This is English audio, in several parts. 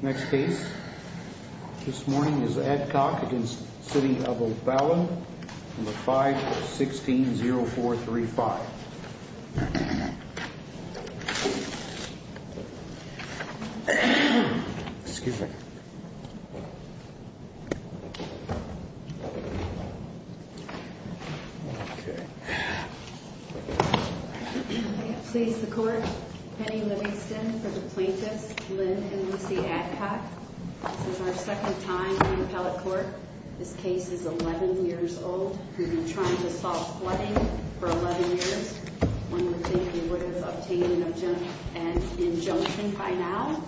Next case, this morning is Adcock v. City of O'Fallon, 516-0435. Excuse me. May it please the court, Penny Livingston for the plaintiffs, Lynn and Lucy Adcock. This is our second time in appellate court. This case is 11 years old. We've been trying to solve flooding for 11 years. One would think we would have obtained an injunction by now.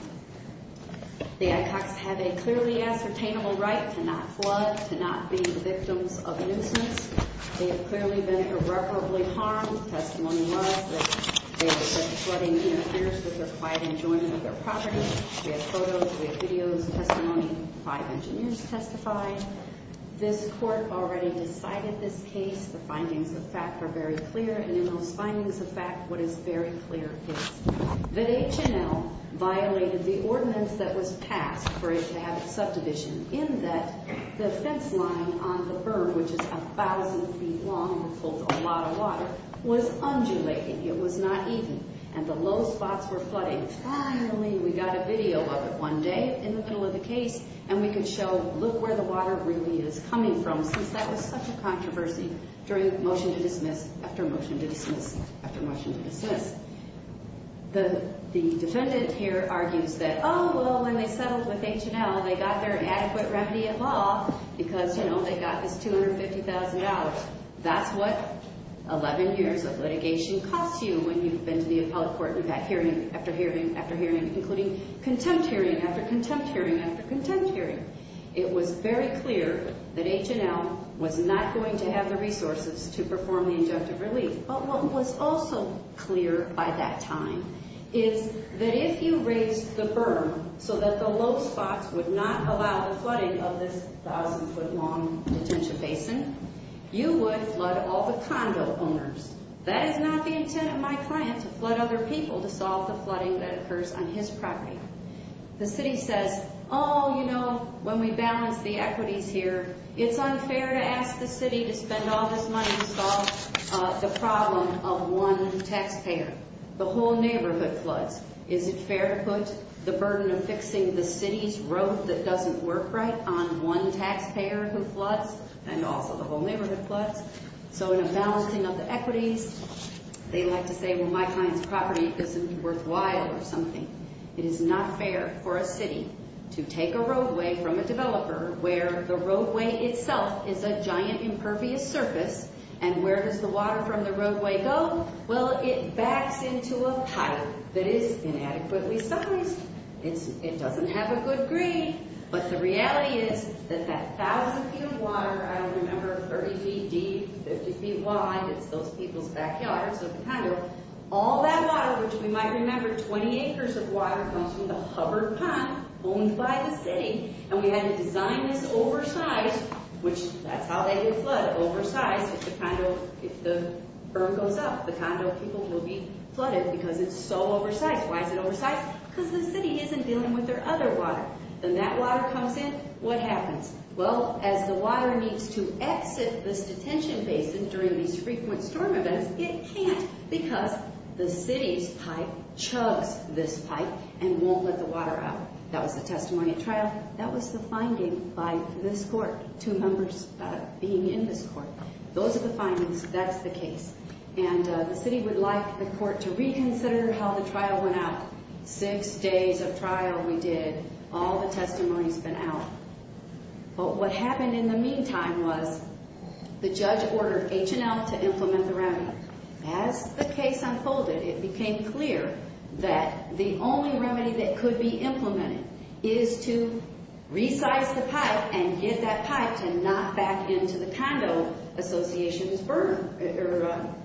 The Adcocks have a clearly ascertainable right to not flood, to not be victims of nuisance. They have clearly been irreparably harmed. Testimony was that flooding interferes with the quiet enjoyment of their property. We have photos, we have videos, testimony. Five engineers testified. This court already decided this case. The findings of fact are very clear, and in those findings of fact, what is very clear is that H&L violated the ordinance that was passed for it to have its subdivision, in that the fence line on the berm, which is 1,000 feet long and holds a lot of water, was undulating. It was not even, and the low spots were flooding. Finally, we got a video of it one day in the middle of the case, and we could show, look where the water really is coming from, since that was such a controversy during the motion to dismiss, after motion to dismiss, after motion to dismiss. The defendant here argues that, oh, well, when they settled with H&L, they got their adequate remedy of law because, you know, they got this $250,000. That's what 11 years of litigation costs you when you've been to the appellate court and got hearing after hearing after hearing, including contempt hearing after contempt hearing after contempt hearing. It was very clear that H&L was not going to have the resources to perform the injunctive relief. But what was also clear by that time is that if you raised the berm so that the low spots would not allow the flooding of this 1,000-foot-long detention basin, you would flood all the condo owners. That is not the intent of my client, to flood other people, to solve the flooding that occurs on his property. The city says, oh, you know, when we balance the equities here, it's unfair to ask the city to spend all this money to solve the problem of one taxpayer. The whole neighborhood floods. Is it fair to put the burden of fixing the city's road that doesn't work right on one taxpayer who floods, and also the whole neighborhood floods? So in a balancing of the equities, they like to say, well, my client's property isn't worthwhile or something. It is not fair for a city to take a roadway from a developer where the roadway itself is a giant, impervious surface, and where does the water from the roadway go? Well, it backs into a puddle that is inadequately sized. It doesn't have a good green. But the reality is that that 1,000 feet of water, I don't remember, 30 feet deep, 50 feet wide, it's those people's backyards of the condo, all that water, which we might remember 20 acres of water comes from the Hubbard pond owned by the city. And we had to design this oversized, which that's how they get flood, oversized. If the condo, if the berm goes up, the condo people will be flooded because it's so oversized. Why is it oversized? Because the city isn't dealing with their other water. Then that water comes in. What happens? Well, as the water needs to exit this detention basin during these frequent storm events, it can't because the city's pipe chugs this pipe and won't let the water out. That was the testimony at trial. That was the finding by this court, two members being in this court. Those are the findings. That's the case. And the city would like the court to reconsider how the trial went out. Six days of trial we did. All the testimony's been out. But what happened in the meantime was the judge ordered H&L to implement the remedy. As the case unfolded, it became clear that the only remedy that could be implemented is to resize the pipe and get that pipe to not back into the condo association's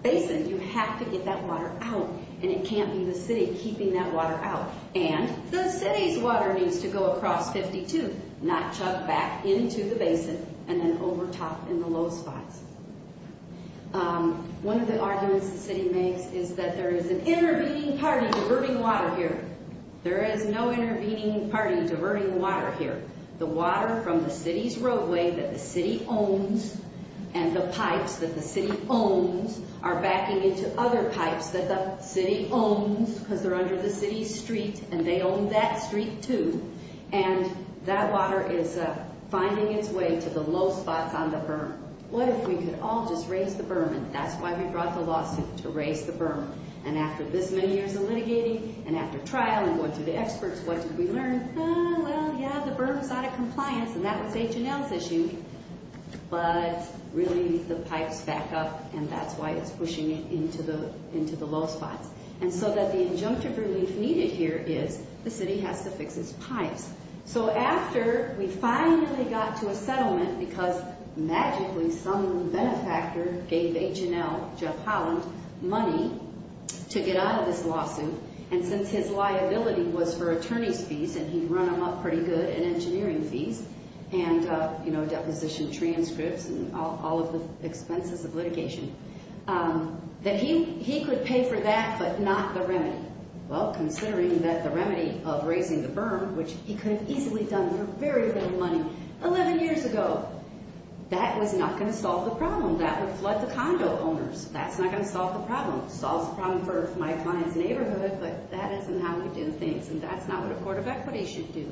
basin. You have to get that water out, and it can't be the city keeping that water out. And the city's water needs to go across 52, not chug back into the basin and then over top in the low spots. One of the arguments the city makes is that there is an intervening party diverting water here. There is no intervening party diverting water here. The water from the city's roadway that the city owns and the pipes that the city owns are backing into other pipes that the city owns because they're under the city's street, and they own that street too. And that water is finding its way to the low spots on the berm. What if we could all just raise the berm? And that's why we brought the lawsuit, to raise the berm. And after this many years of litigating and after trial and going through the experts, what did we learn? Well, yeah, the berm's out of compliance, and that was H&L's issue. But really the pipes back up, and that's why it's pushing it into the low spots. And so that the injunctive relief needed here is the city has to fix its pipes. So after we finally got to a settlement, because magically some benefactor gave H&L, Jeff Holland, money to get out of this lawsuit, and since his liability was for attorney's fees, and he'd run them up pretty good in engineering fees, and deposition transcripts, and all of the expenses of litigation, that he could pay for that but not the remedy. Well, considering that the remedy of raising the berm, which he could have easily done for very little money 11 years ago, that was not going to solve the problem. That would flood the condo owners. That's not going to solve the problem. Solves the problem for my client's neighborhood, but that isn't how we do things, and that's not what a court of equity should do.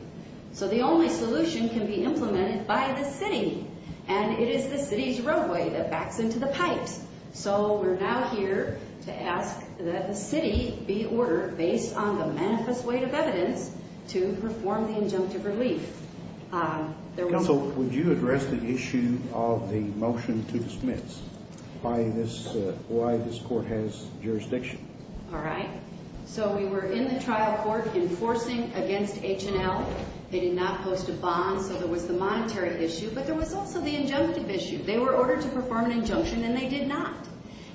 So the only solution can be implemented by the city, and it is the city's roadway that backs into the pipes. So we're now here to ask that the city be ordered, based on the manifest weight of evidence, to perform the injunctive relief. Counsel, would you address the issue of the motion to dismiss, why this court has jurisdiction? All right. So we were in the trial court enforcing against H&L. They did not post a bond, so there was the monetary issue, but there was also the injunctive issue. They were ordered to perform an injunction, and they did not.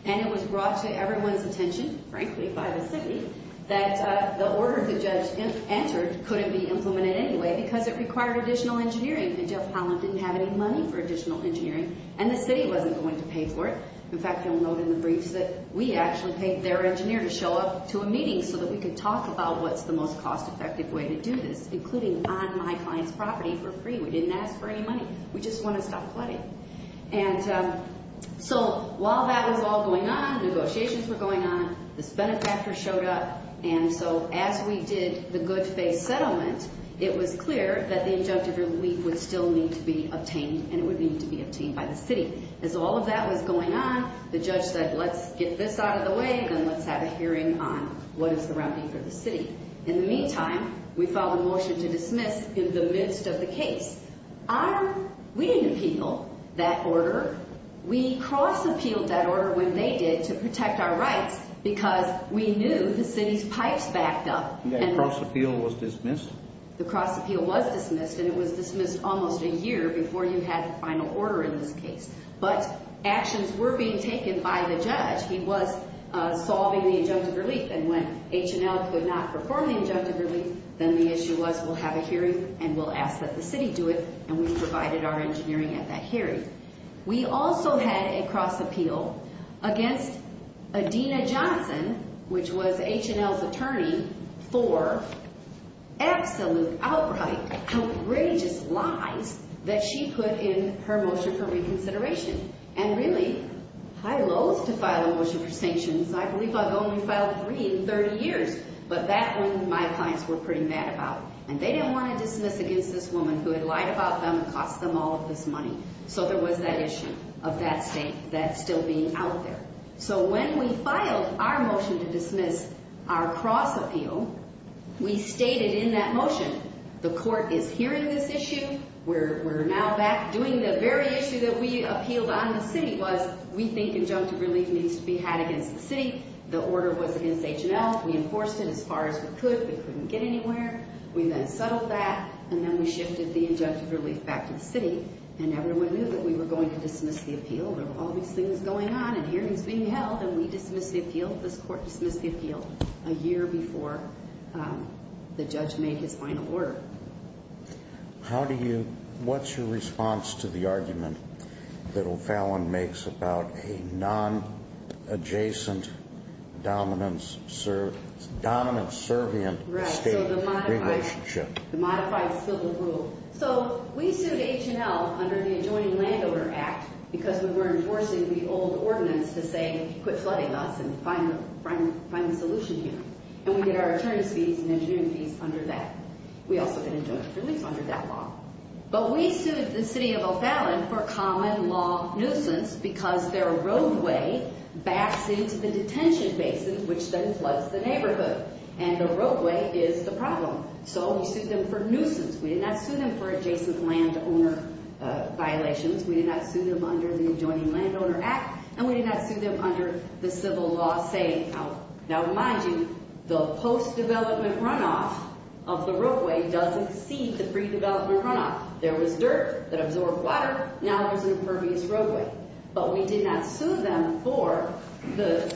And it was brought to everyone's attention, frankly, by the city, that the order the judge entered couldn't be implemented anyway because it required additional engineering, and Jeff Holland didn't have any money for additional engineering, and the city wasn't going to pay for it. In fact, you'll note in the briefs that we actually paid their engineer to show up to a meeting so that we could talk about what's the most cost-effective way to do this, including on my client's property for free. We didn't ask for any money. We just want to stop flooding. And so while that was all going on, negotiations were going on, this benefactor showed up, and so as we did the good-faith settlement, it was clear that the injunctive relief would still need to be obtained, and it would need to be obtained by the city. As all of that was going on, the judge said, let's get this out of the way, and then let's have a hearing on what is the remedy for the city. In the meantime, we filed a motion to dismiss in the midst of the case. We didn't appeal that order. We cross-appealed that order when they did to protect our rights because we knew the city's pipes backed up. And that cross-appeal was dismissed? The cross-appeal was dismissed, and it was dismissed almost a year before you had the final order in this case. But actions were being taken by the judge. He was solving the injunctive relief, and when H&L could not perform the injunctive relief, then the issue was we'll have a hearing, and we'll ask that the city do it, and we provided our engineering at that hearing. We also had a cross-appeal against Adina Johnson, which was H&L's attorney, for absolute, outright, outrageous lies that she put in her motion for reconsideration. And really, I loathe to file a motion for sanctions. I believe I've only filed three in 30 years, but that one my clients were pretty mad about, and they didn't want to dismiss against this woman who had lied about them and cost them all of this money. So there was that issue of that state that's still being out there. So when we filed our motion to dismiss our cross-appeal, we stated in that motion, the court is hearing this issue. We're now back doing the very issue that we appealed on to the city, was we think injunctive relief needs to be had against the city. The order was against H&L. We enforced it as far as we could. We couldn't get anywhere. We then settled that, and then we shifted the injunctive relief back to the city, and everyone knew that we were going to dismiss the appeal. There were all these things going on and hearings being held, and we dismissed the appeal. This court dismissed the appeal a year before the judge made his final word. What's your response to the argument that O'Fallon makes about a non-adjacent, dominance-servant state relationship? Right, so the modified spill-the-brew. So we sued H&L under the Adjoining Landowner Act because we were enforcing the old ordinance to say quit flooding us and find the solution here. And we get our attorney's fees and engineering fees under that. We also get injunctive relief under that law. But we sued the city of O'Fallon for common law nuisance because their roadway backs into the detention basin, which then floods the neighborhood, and the roadway is the problem. So we sued them for nuisance. We did not sue them for adjacent landowner violations. We did not sue them under the Adjoining Landowner Act, and we did not sue them under the civil law saying, now mind you, the post-development runoff of the roadway does exceed the pre-development runoff. There was dirt that absorbed water. Now there's an impervious roadway. But we did not sue them for the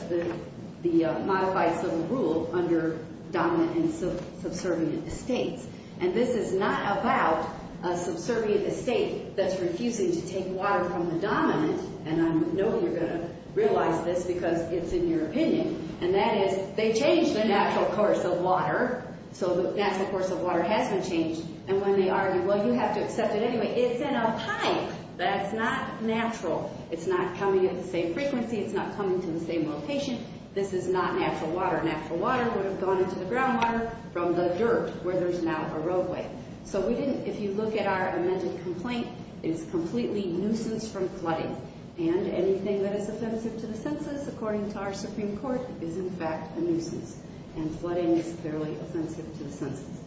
modified civil rule under dominant and subservient states. And this is not about a subservient state that's refusing to take water from the dominant, and I know you're going to realize this because it's in your opinion, and that is they changed the natural course of water. So the natural course of water has been changed. And when they argue, well, you have to accept it anyway, it's in a pipe. That's not natural. It's not coming at the same frequency. It's not coming to the same location. This is not natural water. Natural water would have gone into the groundwater from the dirt where there's now a roadway. So if you look at our amended complaint, it is completely nuisance from flooding. And anything that is offensive to the census, according to our Supreme Court, is in fact a nuisance. And flooding is clearly offensive to the census.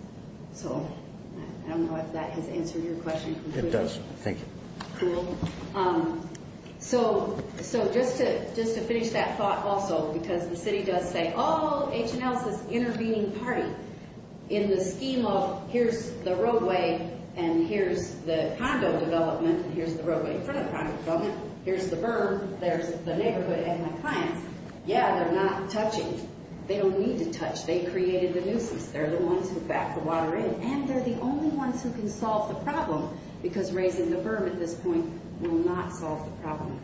So I don't know if that has answered your question completely. It does. Thank you. Cool. So just to finish that thought also, because the city does say, oh, H&L is this intervening party, in the scheme of here's the roadway, and here's the condo development, and here's the roadway in front of the condo development. Here's the berm. There's the neighborhood and my clients. Yeah, they're not touching. They don't need to touch. They created the nuisance. They're the ones who backed the water in. And they're the only ones who can solve the problem, because raising the berm at this point will not solve the problem.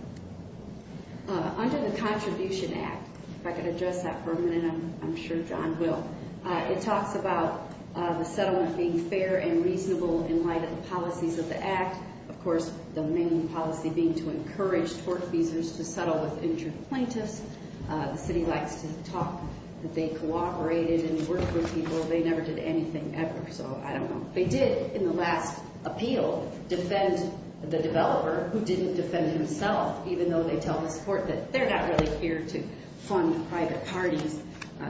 Under the Contribution Act, if I could address that for a minute, I'm sure John will, it talks about the settlement being fair and reasonable in light of the policies of the Act. Of course, the main policy being to encourage tortfeasors to settle with injured plaintiffs. The city likes to talk that they cooperated and worked with people. They never did anything ever, so I don't know. They did, in the last appeal, defend the developer who didn't defend himself, even though they tell this court that they're not really here to fund private parties.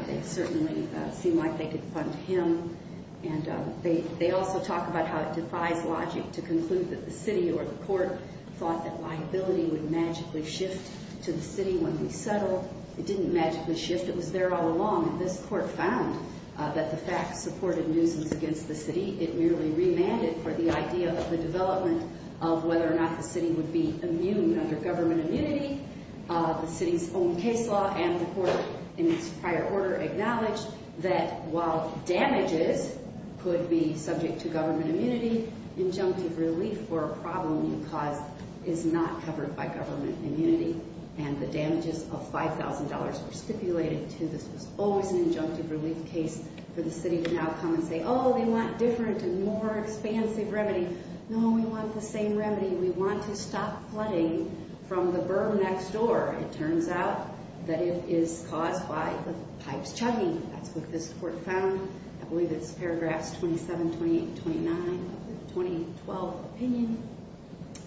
It certainly seemed like they could fund him. And they also talk about how it defies logic to conclude that the city or the court thought that liability would magically shift to the city when we settle. It didn't magically shift. It was there all along. This court found that the fact supported nuisance against the city. It merely remanded for the idea of the development of whether or not the city would be immune under government immunity. The city's own case law and the court in its prior order acknowledged that while damages could be subject to government immunity, injunctive relief for a problem you caused is not covered by government immunity. And the damages of $5,000 were stipulated, too. This was always an injunctive relief case for the city to now come and say, oh, they want different and more expansive remedy. No, we want the same remedy. We want to stop flooding from the berm next door. It turns out that it is caused by the pipes chugging. That's what this court found. I believe it's paragraphs 27, 28, 29 of the 2012 opinion.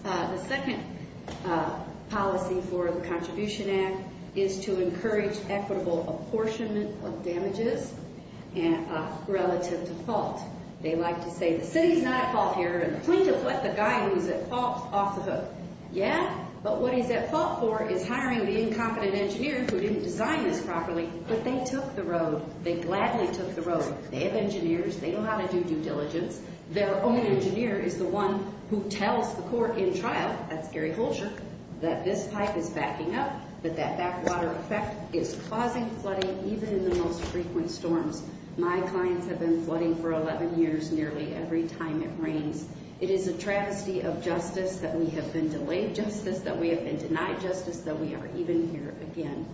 The second policy for the Contribution Act is to encourage equitable apportionment of damages relative to fault. They like to say the city's not at fault here. And the point is, what, the guy who's at fault? Yeah, but what he's at fault for is hiring the incompetent engineer who didn't design this properly. But they took the road. They gladly took the road. They have engineers. They know how to do due diligence. Their own engineer is the one who tells the court in trial, that's Gary Holsher, that this pipe is backing up, that that backwater effect is causing flooding even in the most frequent storms. My clients have been flooding for 11 years nearly every time it rains. It is a travesty of justice that we have been delayed justice, that we have been denied justice, that we are even here again.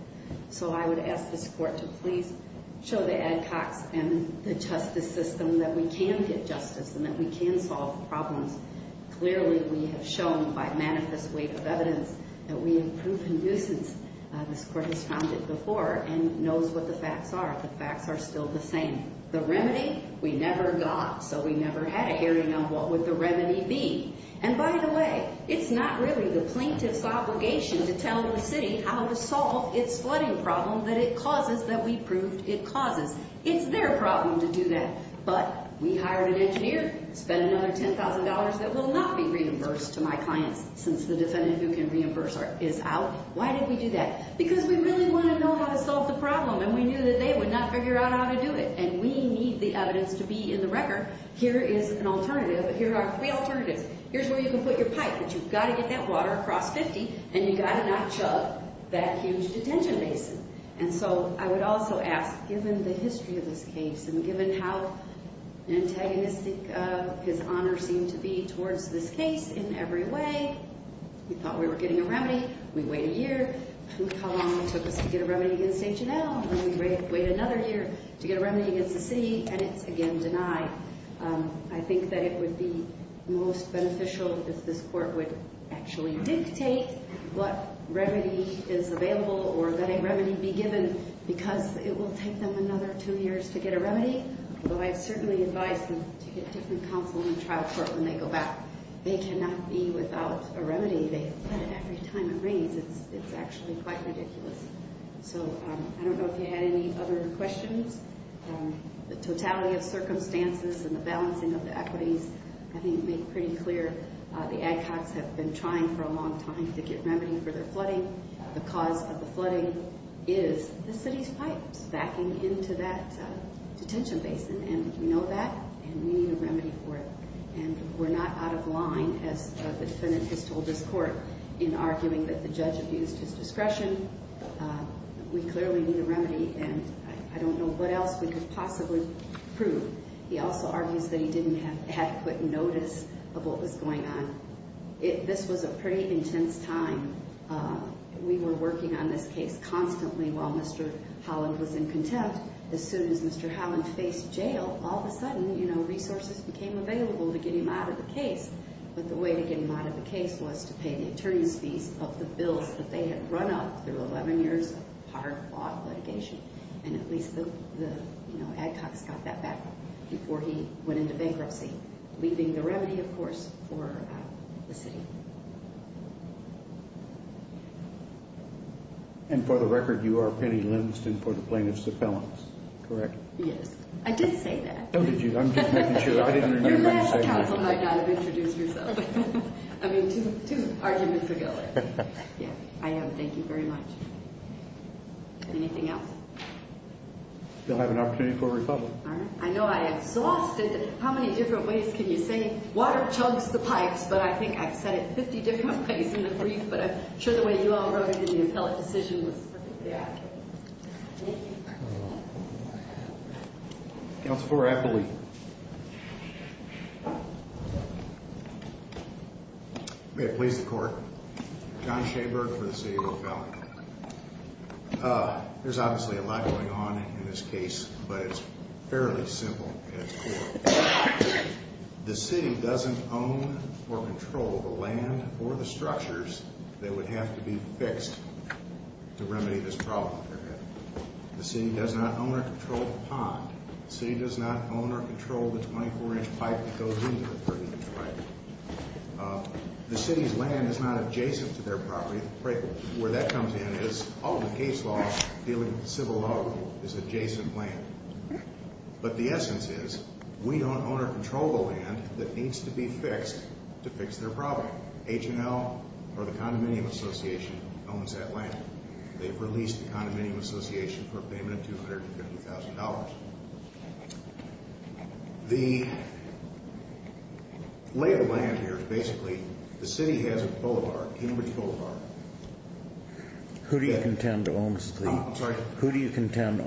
So I would ask this court to please show the Adcocks and the justice system that we can get justice and that we can solve problems. Clearly, we have shown by manifest weight of evidence that we have proven nuisance. This court has found it before and knows what the facts are. The facts are still the same. The remedy, we never got, so we never had a hearing on what would the remedy be. And by the way, it's not really the plaintiff's obligation to tell the city how to solve its flooding problem that it causes that we proved it causes. It's their problem to do that. But we hired an engineer, spent another $10,000 that will not be reimbursed to my clients since the defendant who can reimburse is out. Why did we do that? Because we really want to know how to solve the problem and we knew that they would not figure out how to do it. And we need the evidence to be in the record. Here is an alternative. Here are three alternatives. Here's where you can put your pipe, but you've got to get that water across 50 and you've got to not chug that huge detention basin. And so I would also ask, given the history of this case and given how antagonistic his honor seemed to be towards this case in every way, we thought we were getting a remedy. We wait a year. How long it took us to get a remedy against H&L, and we wait another year to get a remedy against the city, and it's again denied. I think that it would be most beneficial if this court would actually dictate what remedy is available or that a remedy be given because it will take them another two years to get a remedy. Although I certainly advise them to get different counsel and trial court when they go back. They cannot be without a remedy. They get it every time it rains. It's actually quite ridiculous. So I don't know if you had any other questions. The totality of circumstances and the balancing of the equities, I think, make pretty clear the Adcocks have been trying for a long time to get remedy for their flooding. The cause of the flooding is the city's pipes backing into that detention basin, and we know that, and we need a remedy for it. And we're not out of line, as the defendant has told this court, in arguing that the judge abused his discretion. We clearly need a remedy, and I don't know what else we could possibly prove. He also argues that he didn't have had quick notice of what was going on. This was a pretty intense time. We were working on this case constantly while Mr. Holland was in contempt. As soon as Mr. Holland faced jail, all of a sudden, you know, resources became available to get him out of the case. But the way to get him out of the case was to pay the attorney's fees of the bills that they had run up through 11 years of hard-fought litigation. And at least the Adcocks got that back before he went into bankruptcy, leaving the remedy, of course, for the city. And for the record, you are Penny Livingston for the plaintiff's appellants, correct? Yes. I did say that. Oh, did you? I'm just making sure. I didn't hear you say that. Your last counsel might not have introduced yourself. I mean, two arguments ago. I am. Thank you very much. Anything else? You'll have an opportunity for a rebuttal. I know I'm exhausted. How many different ways can you say, water chugs the pipes? But I think I've said it 50 different ways in the brief, but I'm sure the way you all wrote it in the appellate decision was perfect. Thank you. Counsel for appellate. May it please the court. John Shaberg for the city of Oak Valley. There's obviously a lot going on in this case, but it's fairly simple at its core. The city doesn't own or control the land or the structures that would have to be fixed to remedy this problem. The city does not own or control the pond. The city does not own or control the 24-inch pipe that goes into the 30-inch pipe. The city's land is not adjacent to their property. Where that comes in is all the case law dealing with civil law is adjacent land. But the essence is we don't own or control the land that needs to be fixed to fix their problem. H&L or the Condominium Association owns that land. They've released the Condominium Association for a payment of $250,000. The lay of the land here is basically the city has a boulevard, Cambridge Boulevard. Who do you contend owns the? I'm sorry? Who do you contend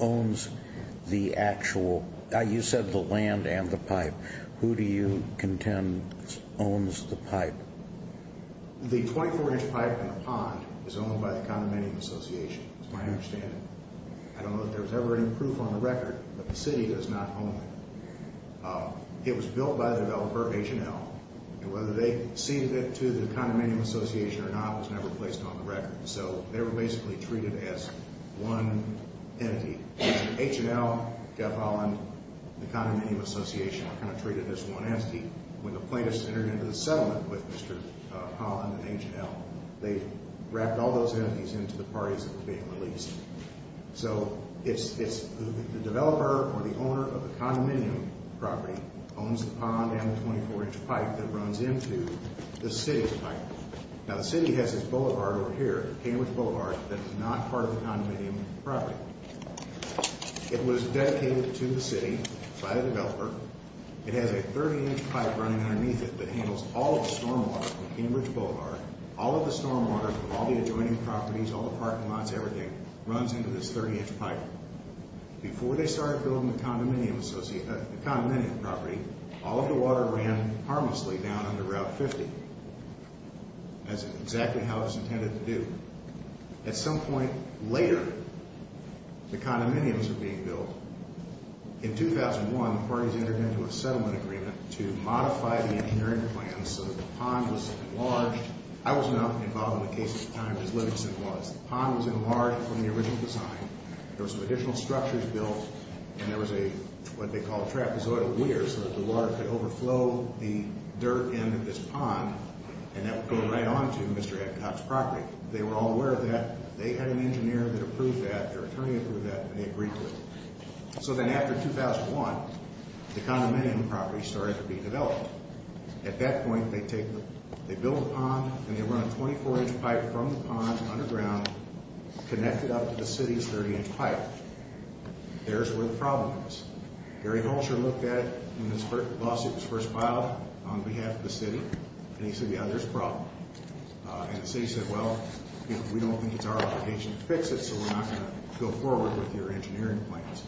owns the actual? You said the land and the pipe. Who do you contend owns the pipe? The 24-inch pipe in the pond is owned by the Condominium Association. That's my understanding. I don't know if there was ever any proof on the record, but the city does not own it. It was built by the developer, H&L, and whether they ceded it to the Condominium Association or not was never placed on the record. So they were basically treated as one entity. H&L, Jeff Holland, the Condominium Association were kind of treated as one entity. When the plaintiffs entered into the settlement with Mr. Holland and H&L, they wrapped all those entities into the parties that were being released. So it's the developer or the owner of the condominium property owns the pond and the 24-inch pipe that runs into the city's pipe. Now the city has this boulevard over here, Cambridge Boulevard, that is not part of the condominium property. It was dedicated to the city by the developer. It has a 30-inch pipe running underneath it that handles all of the stormwater from Cambridge Boulevard. All of the stormwater from all the adjoining properties, all the parking lots, everything, runs into this 30-inch pipe. Before they started building the condominium property, all of the water ran harmlessly down under Route 50. That's exactly how it was intended to do. At some point later, the condominiums were being built. In 2001, the parties entered into a settlement agreement to modify the engineering plans so that the pond was enlarged. I was not involved in the case at the time, as Livingston was. The pond was enlarged from the original design. There were some additional structures built, and there was what they called a trapezoidal weir, so that the water could overflow the dirt end of this pond, and that would go right on to Mr. Epcot's property. They were all aware of that. They had an engineer that approved that, their attorney approved that, and they agreed to it. So then after 2001, the condominium property started to be developed. At that point, they built a pond, and they run a 24-inch pipe from the pond underground, connected up to the city's 30-inch pipe. There's where the problem was. Gary Holscher looked at it when this lawsuit was first filed on behalf of the city, and he said, yeah, there's a problem. And the city said, well, we don't think it's our obligation to fix it, so we're not going to go forward with your engineering plans.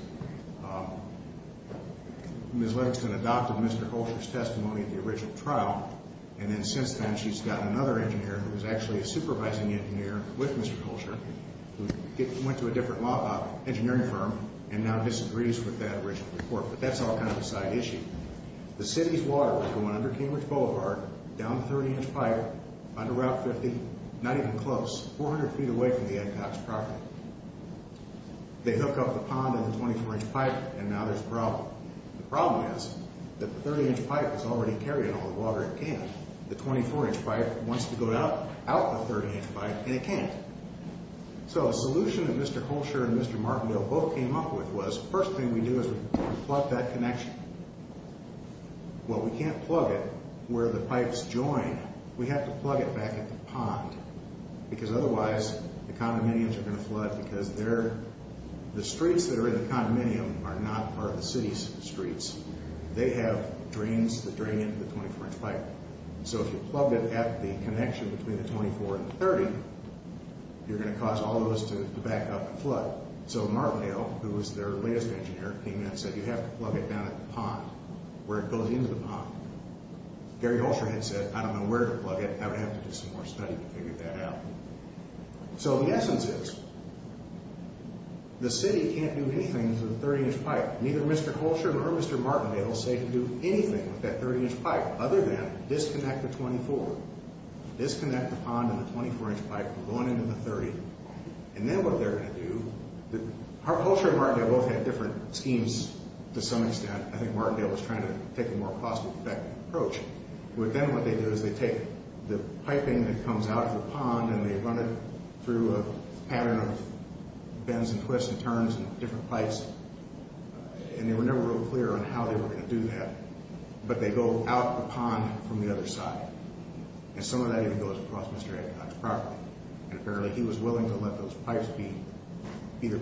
Ms. Livingston adopted Mr. Holscher's testimony at the original trial, and then since then she's gotten another engineer who was actually a supervising engineer with Mr. Holscher, who went to a different engineering firm and now disagrees with that original report. But that's all kind of a side issue. The city's water was going under Cambridge Boulevard, down the 30-inch pipe, under Route 50, not even close, 400 feet away from the Epcot's property. They hook up the pond and the 24-inch pipe, and now there's a problem. The problem is that the 30-inch pipe is already carrying all the water it can. The 24-inch pipe wants to go out the 30-inch pipe, and it can't. So a solution that Mr. Holscher and Mr. Martindale both came up with was, the first thing we do is we plug that connection. Well, we can't plug it where the pipes join. We have to plug it back at the pond, because otherwise the condominiums are going to flood, because the streets that are in the condominium are not part of the city's streets. They have drains that drain into the 24-inch pipe. So if you plug it at the connection between the 24 and the 30, you're going to cause all those to back up and flood. So Martindale, who was their latest engineer, came in and said, you have to plug it down at the pond, where it goes into the pond. Gary Holscher had said, I don't know where to plug it. I would have to do some more study to figure that out. So the essence is, the city can't do anything to the 30-inch pipe. Neither Mr. Holscher nor Mr. Martindale say they can do anything with that 30-inch pipe other than disconnect the 24, disconnect the pond and the 24-inch pipe from going into the 30. And then what they're going to do, Holscher and Martindale both had different schemes to some extent. I think Martindale was trying to take a more cost-effective approach. With them, what they do is they take the piping that comes out of the pond, and they run it through a pattern of bends and twists and turns and different pipes. And they were never real clear on how they were going to do that. But they go out the pond from the other side. And some of that even goes across Mr. Epcot's property. And apparently he was willing to let those pipes be either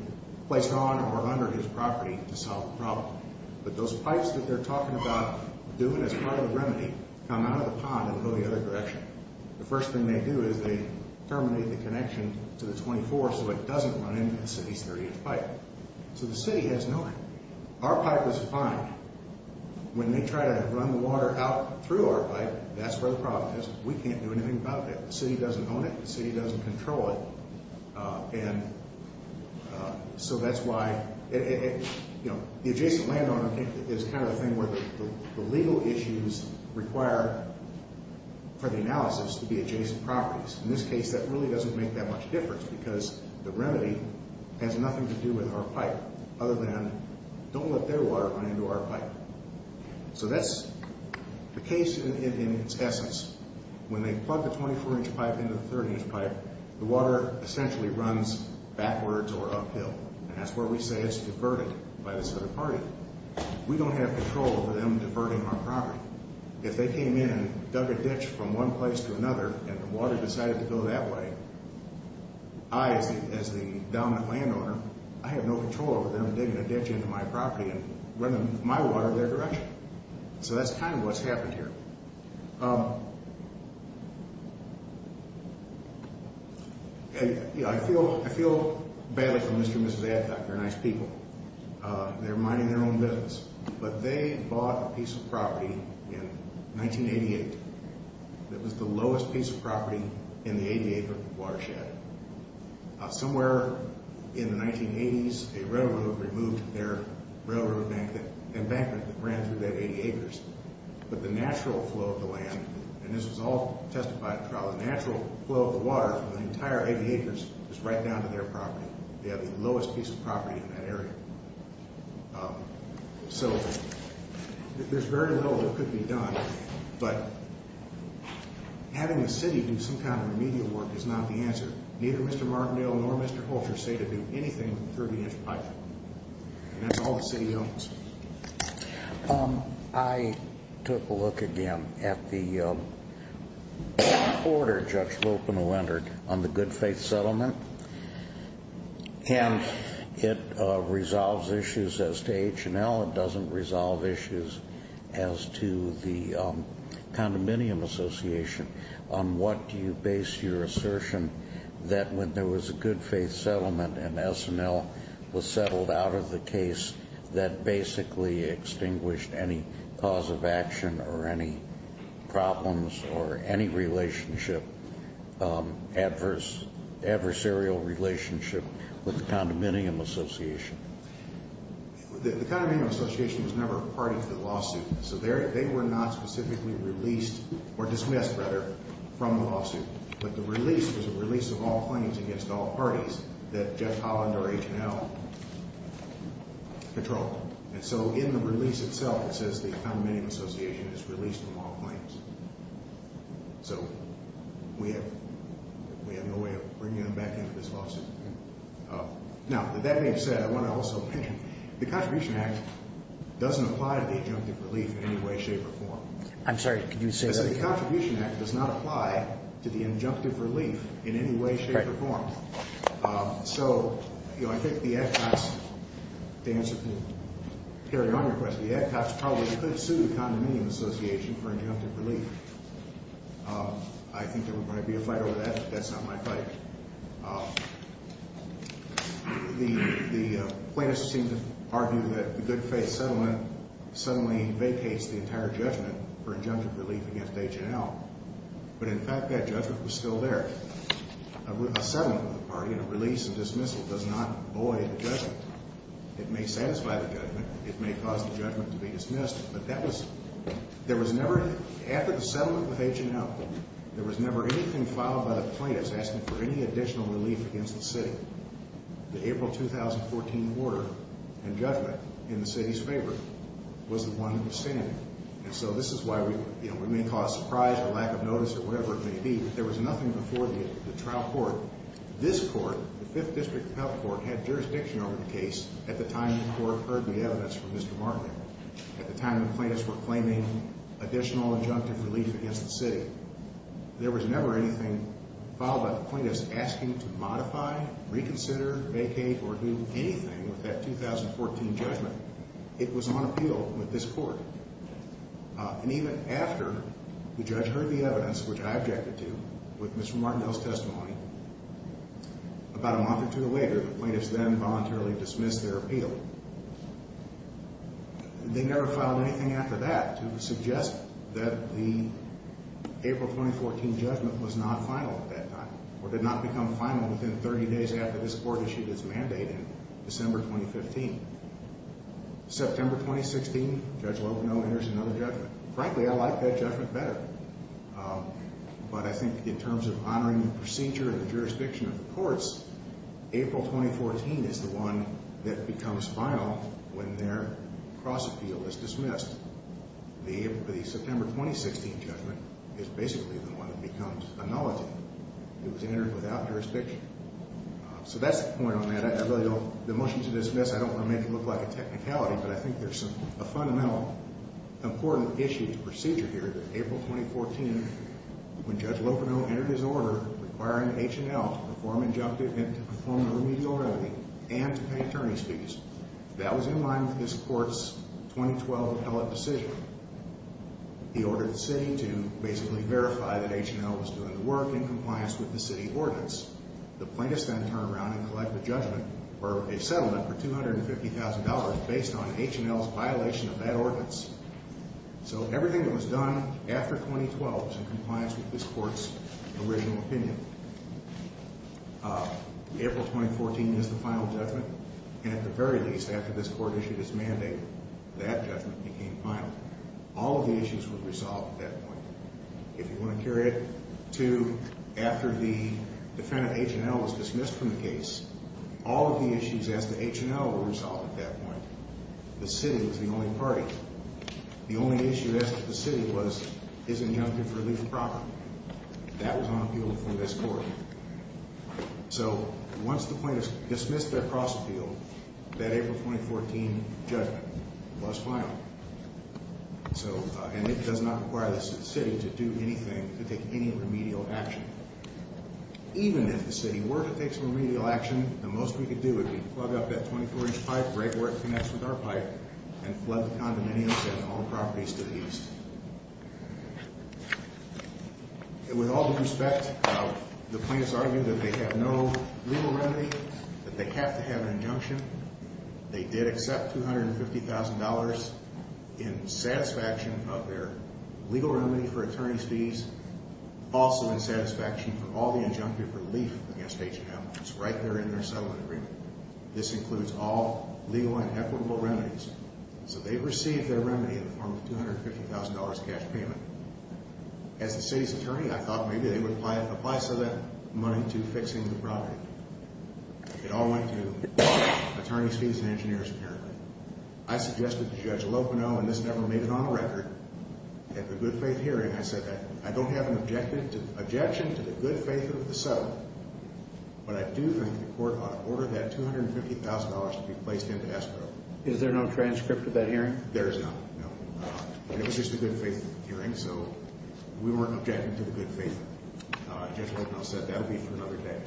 placed on or under his property to solve the problem. But those pipes that they're talking about doing as part of the remedy, come out of the pond and go the other direction. The first thing they do is they terminate the connection to the 24 so it doesn't run into the city's 30-inch pipe. So the city has no way. Our pipe is fine. When they try to run the water out through our pipe, that's where the problem is. We can't do anything about that. The city doesn't own it. The city doesn't control it. And so that's why, you know, the adjacent landowner is kind of the thing where the legal issues require for the analysis to be adjacent properties. In this case, that really doesn't make that much difference because the remedy has nothing to do with our pipe other than don't let their water run into our pipe. So that's the case in its essence. When they plug the 24-inch pipe into the 30-inch pipe, the water essentially runs backwards or uphill. And that's where we say it's diverted by this other party. We don't have control over them diverting our property. If they came in, dug a ditch from one place to another, and the water decided to go that way, I, as the dominant landowner, I have no control over them digging a ditch into my property and running my water their direction. So that's kind of what's happened here. I feel badly for Mr. and Mrs. Adcock. They're nice people. They're minding their own business. But they bought a piece of property in 1988 that was the lowest piece of property in the 80-acre watershed. Somewhere in the 1980s, a railroad removed their railroad embankment that ran through that 80 acres. But the natural flow of the land, and this was all testified throughout, the natural flow of the water from the entire 80 acres is right down to their property. They have the lowest piece of property in that area. So there's very little that could be done. But having the city do some kind of remedial work is not the answer. Neither Mr. Martindale nor Mr. Holter say to do anything through the inch pipe. And that's all the city owns. I took a look again at the order Judge Lopenow entered on the good-faith settlement. And it resolves issues as to H&L. It doesn't resolve issues as to the condominium association. On what do you base your assertion that when there was a good-faith settlement and H&L was settled out of the case, that basically extinguished any cause of action or any problems or any relationship, adversarial relationship with the condominium association? The condominium association was never a party to the lawsuit. So they were not specifically released or dismissed, rather, from the lawsuit. But the release was a release of all claims against all parties that Judge Holland or H&L controlled. And so in the release itself, it says the condominium association is released from all claims. So we have no way of bringing them back into this lawsuit. Now, with that being said, I want to also mention, the Contribution Act doesn't apply to the adjunctive relief in any way, shape, or form. I'm sorry, could you say that again? It says that the Contribution Act does not apply to the adjunctive relief in any way, shape, or form. So, you know, I think the ad cops, to answer, to carry on your question, the ad cops probably could sue the condominium association for adjunctive relief. I think there might be a fight over that, but that's not my fight. The plaintiffs seem to argue that the good-faith settlement suddenly vacates the entire judgment for adjunctive relief against H&L. But, in fact, that judgment was still there. A settlement with a party and a release and dismissal does not void the judgment. It may satisfy the judgment. It may cause the judgment to be dismissed. But that was, there was never, after the settlement with H&L, there was never anything filed by the plaintiffs asking for any additional relief against the city. The April 2014 order and judgment in the city's favor was the one that was standing. And so this is why we, you know, we may call it a surprise or lack of notice or whatever it may be, but there was nothing before the trial court. This court, the 5th District Health Court, had jurisdiction over the case at the time the court heard the evidence from Mr. Martin. At the time the plaintiffs were claiming additional adjunctive relief against the city. There was never anything filed by the plaintiffs asking to modify, reconsider, vacate, or do anything with that 2014 judgment. It was on appeal with this court. And even after the judge heard the evidence, which I objected to, with Mr. Martindale's testimony, about a month or two later, the plaintiffs then voluntarily dismissed their appeal. They never filed anything after that to suggest that the April 2014 judgment was not final at that time or did not become final within 30 days after this court issued its mandate in December 2015. September 2016, Judge Logano enters another judgment. Frankly, I like that judgment better. But I think in terms of honoring the procedure and the jurisdiction of the courts, April 2014 is the one that becomes final when their cross-appeal is dismissed. The September 2016 judgment is basically the one that becomes annullative. It was entered without jurisdiction. So that's the point on that. I really don't, the motion to dismiss, I don't want to make it look like a technicality, but I think there's a fundamental, important issue, procedure here that April 2014, when Judge Logano entered his order requiring H&L to perform an injunctive and to perform a remedial remedy and to pay attorney's fees, that was in line with this court's 2012 appellate decision. He ordered the city to basically verify that H&L was doing the work in compliance with the city ordinance. The plaintiffs then turn around and collect the judgment for a settlement for $250,000 based on H&L's violation of that ordinance. So everything that was done after 2012 was in compliance with this court's original opinion. April 2014 is the final judgment, and at the very least, after this court issued its mandate, that judgment became final. All of the issues were resolved at that point. If you want to carry it to after the defendant H&L was dismissed from the case, all of the issues as to H&L were resolved at that point. The city was the only party. The only issue as to the city was, is injunctive relief proper? That was on appeal before this court. So once the plaintiffs dismissed their cross-appeal, that April 2014 judgment was final. And it does not require the city to do anything, to take any remedial action. Even if the city were to take some remedial action, the most we could do would be plug up that 24-inch pipe right where it connects with our pipe and flood the condominiums and all the properties to the east. With all due respect, the plaintiffs argued that they have no legal remedy, that they have to have an injunction. They did accept $250,000 in satisfaction of their legal remedy for attorney's fees, also in satisfaction for all the injunctive relief against H&L. It's right there in their settlement agreement. This includes all legal and equitable remedies. So they received their remedy in the form of a $250,000 cash payment. As the city's attorney, I thought maybe they would apply some of that money to fixing the property. It all went to attorney's fees and engineers, apparently. I suggested to Judge Lopeno, and this never made it on the record, at the good faith hearing, I said that I don't have an objection to the good faith of the settlement, but I do think the court ought to order that $250,000 to be placed into escrow. Is there no transcript of that hearing? There is none, no. It was just a good faith hearing, so we weren't objecting to the good faith. Judge Lopeno said that would be for another day.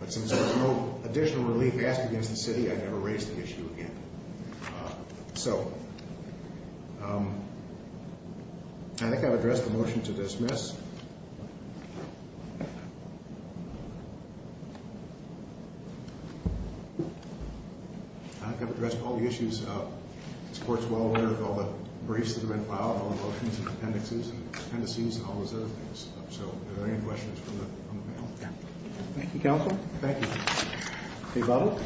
But since there was no additional relief asked against the city, I never raised the issue again. I think I've addressed the motion to dismiss. I think I've addressed all the issues. This court is well aware of all the briefs that have been filed, all the motions and appendices, and all those other things. So are there any questions from the panel? No. Thank you, counsel. Thank you. Ms. Butler?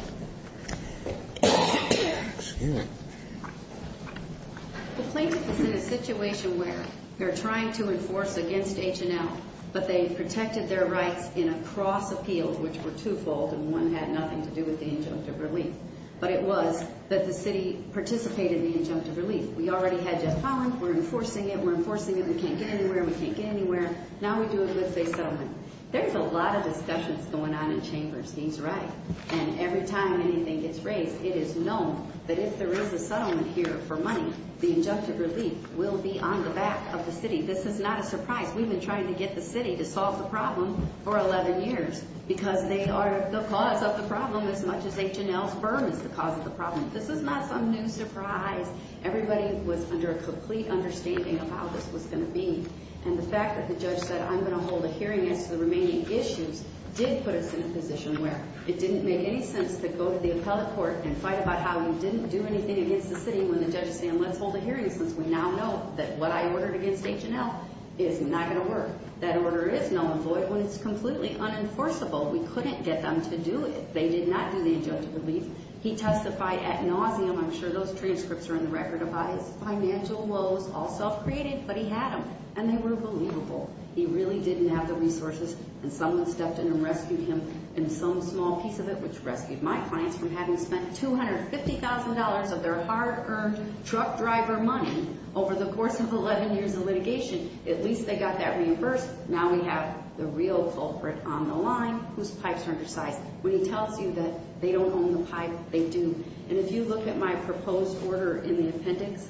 The plaintiff is in a situation where they're trying to enforce against H&L, but they protected their rights in a cross appeal, which were twofold and one had nothing to do with the injunctive relief. But it was that the city participated in the injunctive relief. We already had Jeff Collins. We're enforcing it. We're enforcing it. We can't get anywhere. We can't get anywhere. Now we do a good faith settlement. There's a lot of discussions going on in chambers. He's right. And every time anything gets raised, it is known that if there is a settlement here for money, the injunctive relief will be on the back of the city. This is not a surprise. We've been trying to get the city to solve the problem for 11 years because they are the cause of the problem as much as H&L's burden is the cause of the problem. This is not some new surprise. Everybody was under a complete understanding of how this was going to be. And the fact that the judge said, I'm going to hold a hearing as to the remaining issues did put us in a position where it didn't make any sense to go to the appellate court and fight about how we didn't do anything against the city when the judge said, let's hold a hearing since we now know that what I ordered against H&L is not going to work. That order is null and void when it's completely unenforceable. We couldn't get them to do it. They did not do the injunctive relief. He testified ad nauseum, I'm sure those transcripts are in the record, about his financial woes, all self-created, but he had them. And they were believable. He really didn't have the resources. And someone stepped in and rescued him in some small piece of it, which rescued my clients from having spent $250,000 of their hard-earned truck driver money over the course of 11 years of litigation. At least they got that reimbursed. Now we have the real culprit on the line whose pipes are undersized. When he tells you that they don't own the pipe, they do. And if you look at my proposed order in the appendix,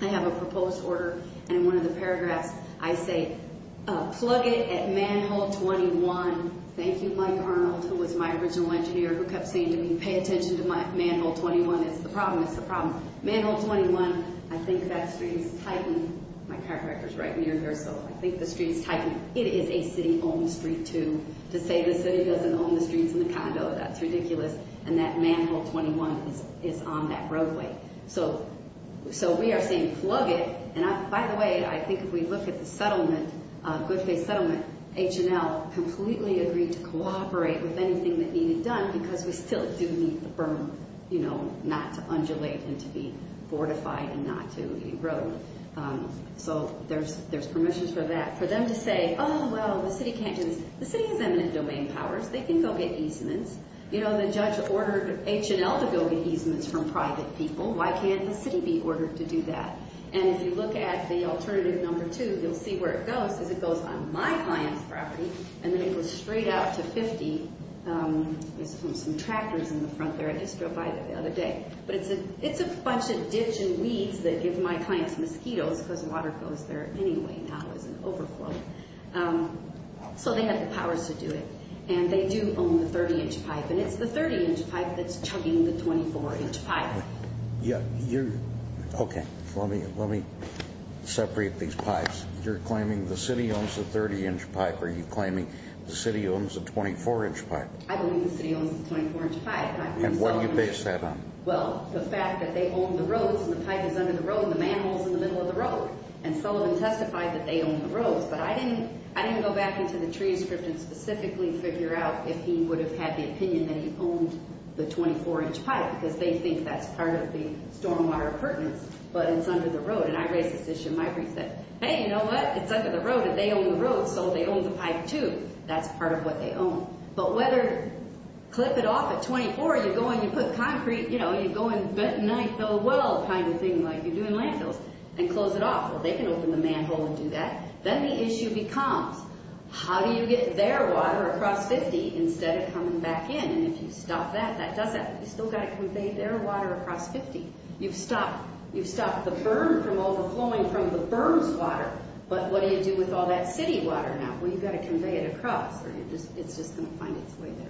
I have a proposed order, and in one of the paragraphs I say, plug it at manhole 21. Thank you, Mike Arnold, who was my original engineer, who kept saying to me, pay attention to manhole 21. It's the problem. Manhole 21, I think that street is tightened. My chiropractor is right near here, so I think the street is tightened. It is a city-owned street, too. To say the city doesn't own the streets in the condo, that's ridiculous. And that manhole 21 is on that roadway. So we are saying plug it. And, by the way, I think if we look at the settlement, Goodface Settlement, H&L, completely agreed to cooperate with anything that needed done because we still do need the berm, you know, not to undulate and to be fortified and not to erode. So there's permissions for that. For them to say, oh, well, the city can't do this. The city has eminent domain powers. They can go get easements. You know, the judge ordered H&L to go get easements from private people. Why can't the city be ordered to do that? And if you look at the alternative number two, you'll see where it goes, because it goes on my client's property, and then it goes straight out to 50. There's some tractors in the front there. I just drove by there the other day. But it's a bunch of ditch and weeds that give my clients mosquitoes because water goes there anyway now as an overflow. So they have the powers to do it. And they do own the 30-inch pipe. And it's the 30-inch pipe that's chugging the 24-inch pipe. Okay. Let me separate these pipes. You're claiming the city owns the 30-inch pipe. Are you claiming the city owns the 24-inch pipe? I believe the city owns the 24-inch pipe. And what do you base that on? Well, the fact that they own the roads and the pipe is under the road and the manhole is in the middle of the road. And Sullivan testified that they own the roads. But I didn't go back into the transcript and specifically figure out if he would have had the opinion that he owned the 24-inch pipe because they think that's part of the stormwater appurtenance, but it's under the road. And I raised this issue in my brief that, hey, you know what? It's under the road and they own the roads, so they own the pipe too. That's part of what they own. But whether clip it off at 24, you go and you put concrete, you know, you go and nine-fill a well kind of thing like you do in landfills and close it off. Well, they can open the manhole and do that. Then the issue becomes how do you get their water across 50 instead of coming back in? And if you stop that, that does that. But you still got to convey their water across 50. You've stopped the berm from overflowing from the berm's water. But what do you do with all that city water now? Well, you've got to convey it across. It's just going to find its way there.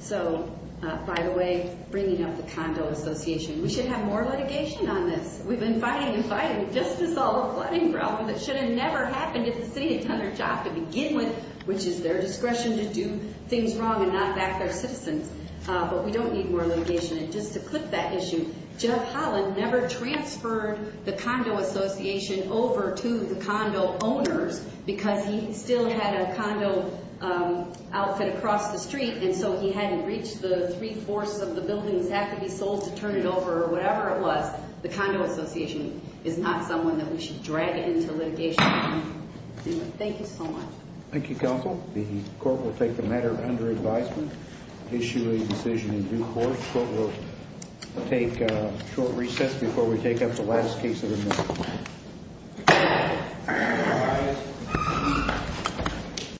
So, by the way, bringing up the Condo Association. We should have more litigation on this. We've been fighting and fighting just to solve the flooding problem that should have never happened if the city had done their job to begin with, which is their discretion to do things wrong and not back their citizens. But we don't need more litigation. And just to clip that issue, Jeff Holland never transferred the Condo Association over to the condo owners because he still had a condo outfit across the street, and so he hadn't reached the three-fourths of the buildings that could be sold to turn it over or whatever it was. The Condo Association is not someone that we should drag into litigation. Thank you so much. Thank you, counsel. The court will take the matter under advisement, issue a decision in due course. The court will take a short recess before we take up the last case of the night.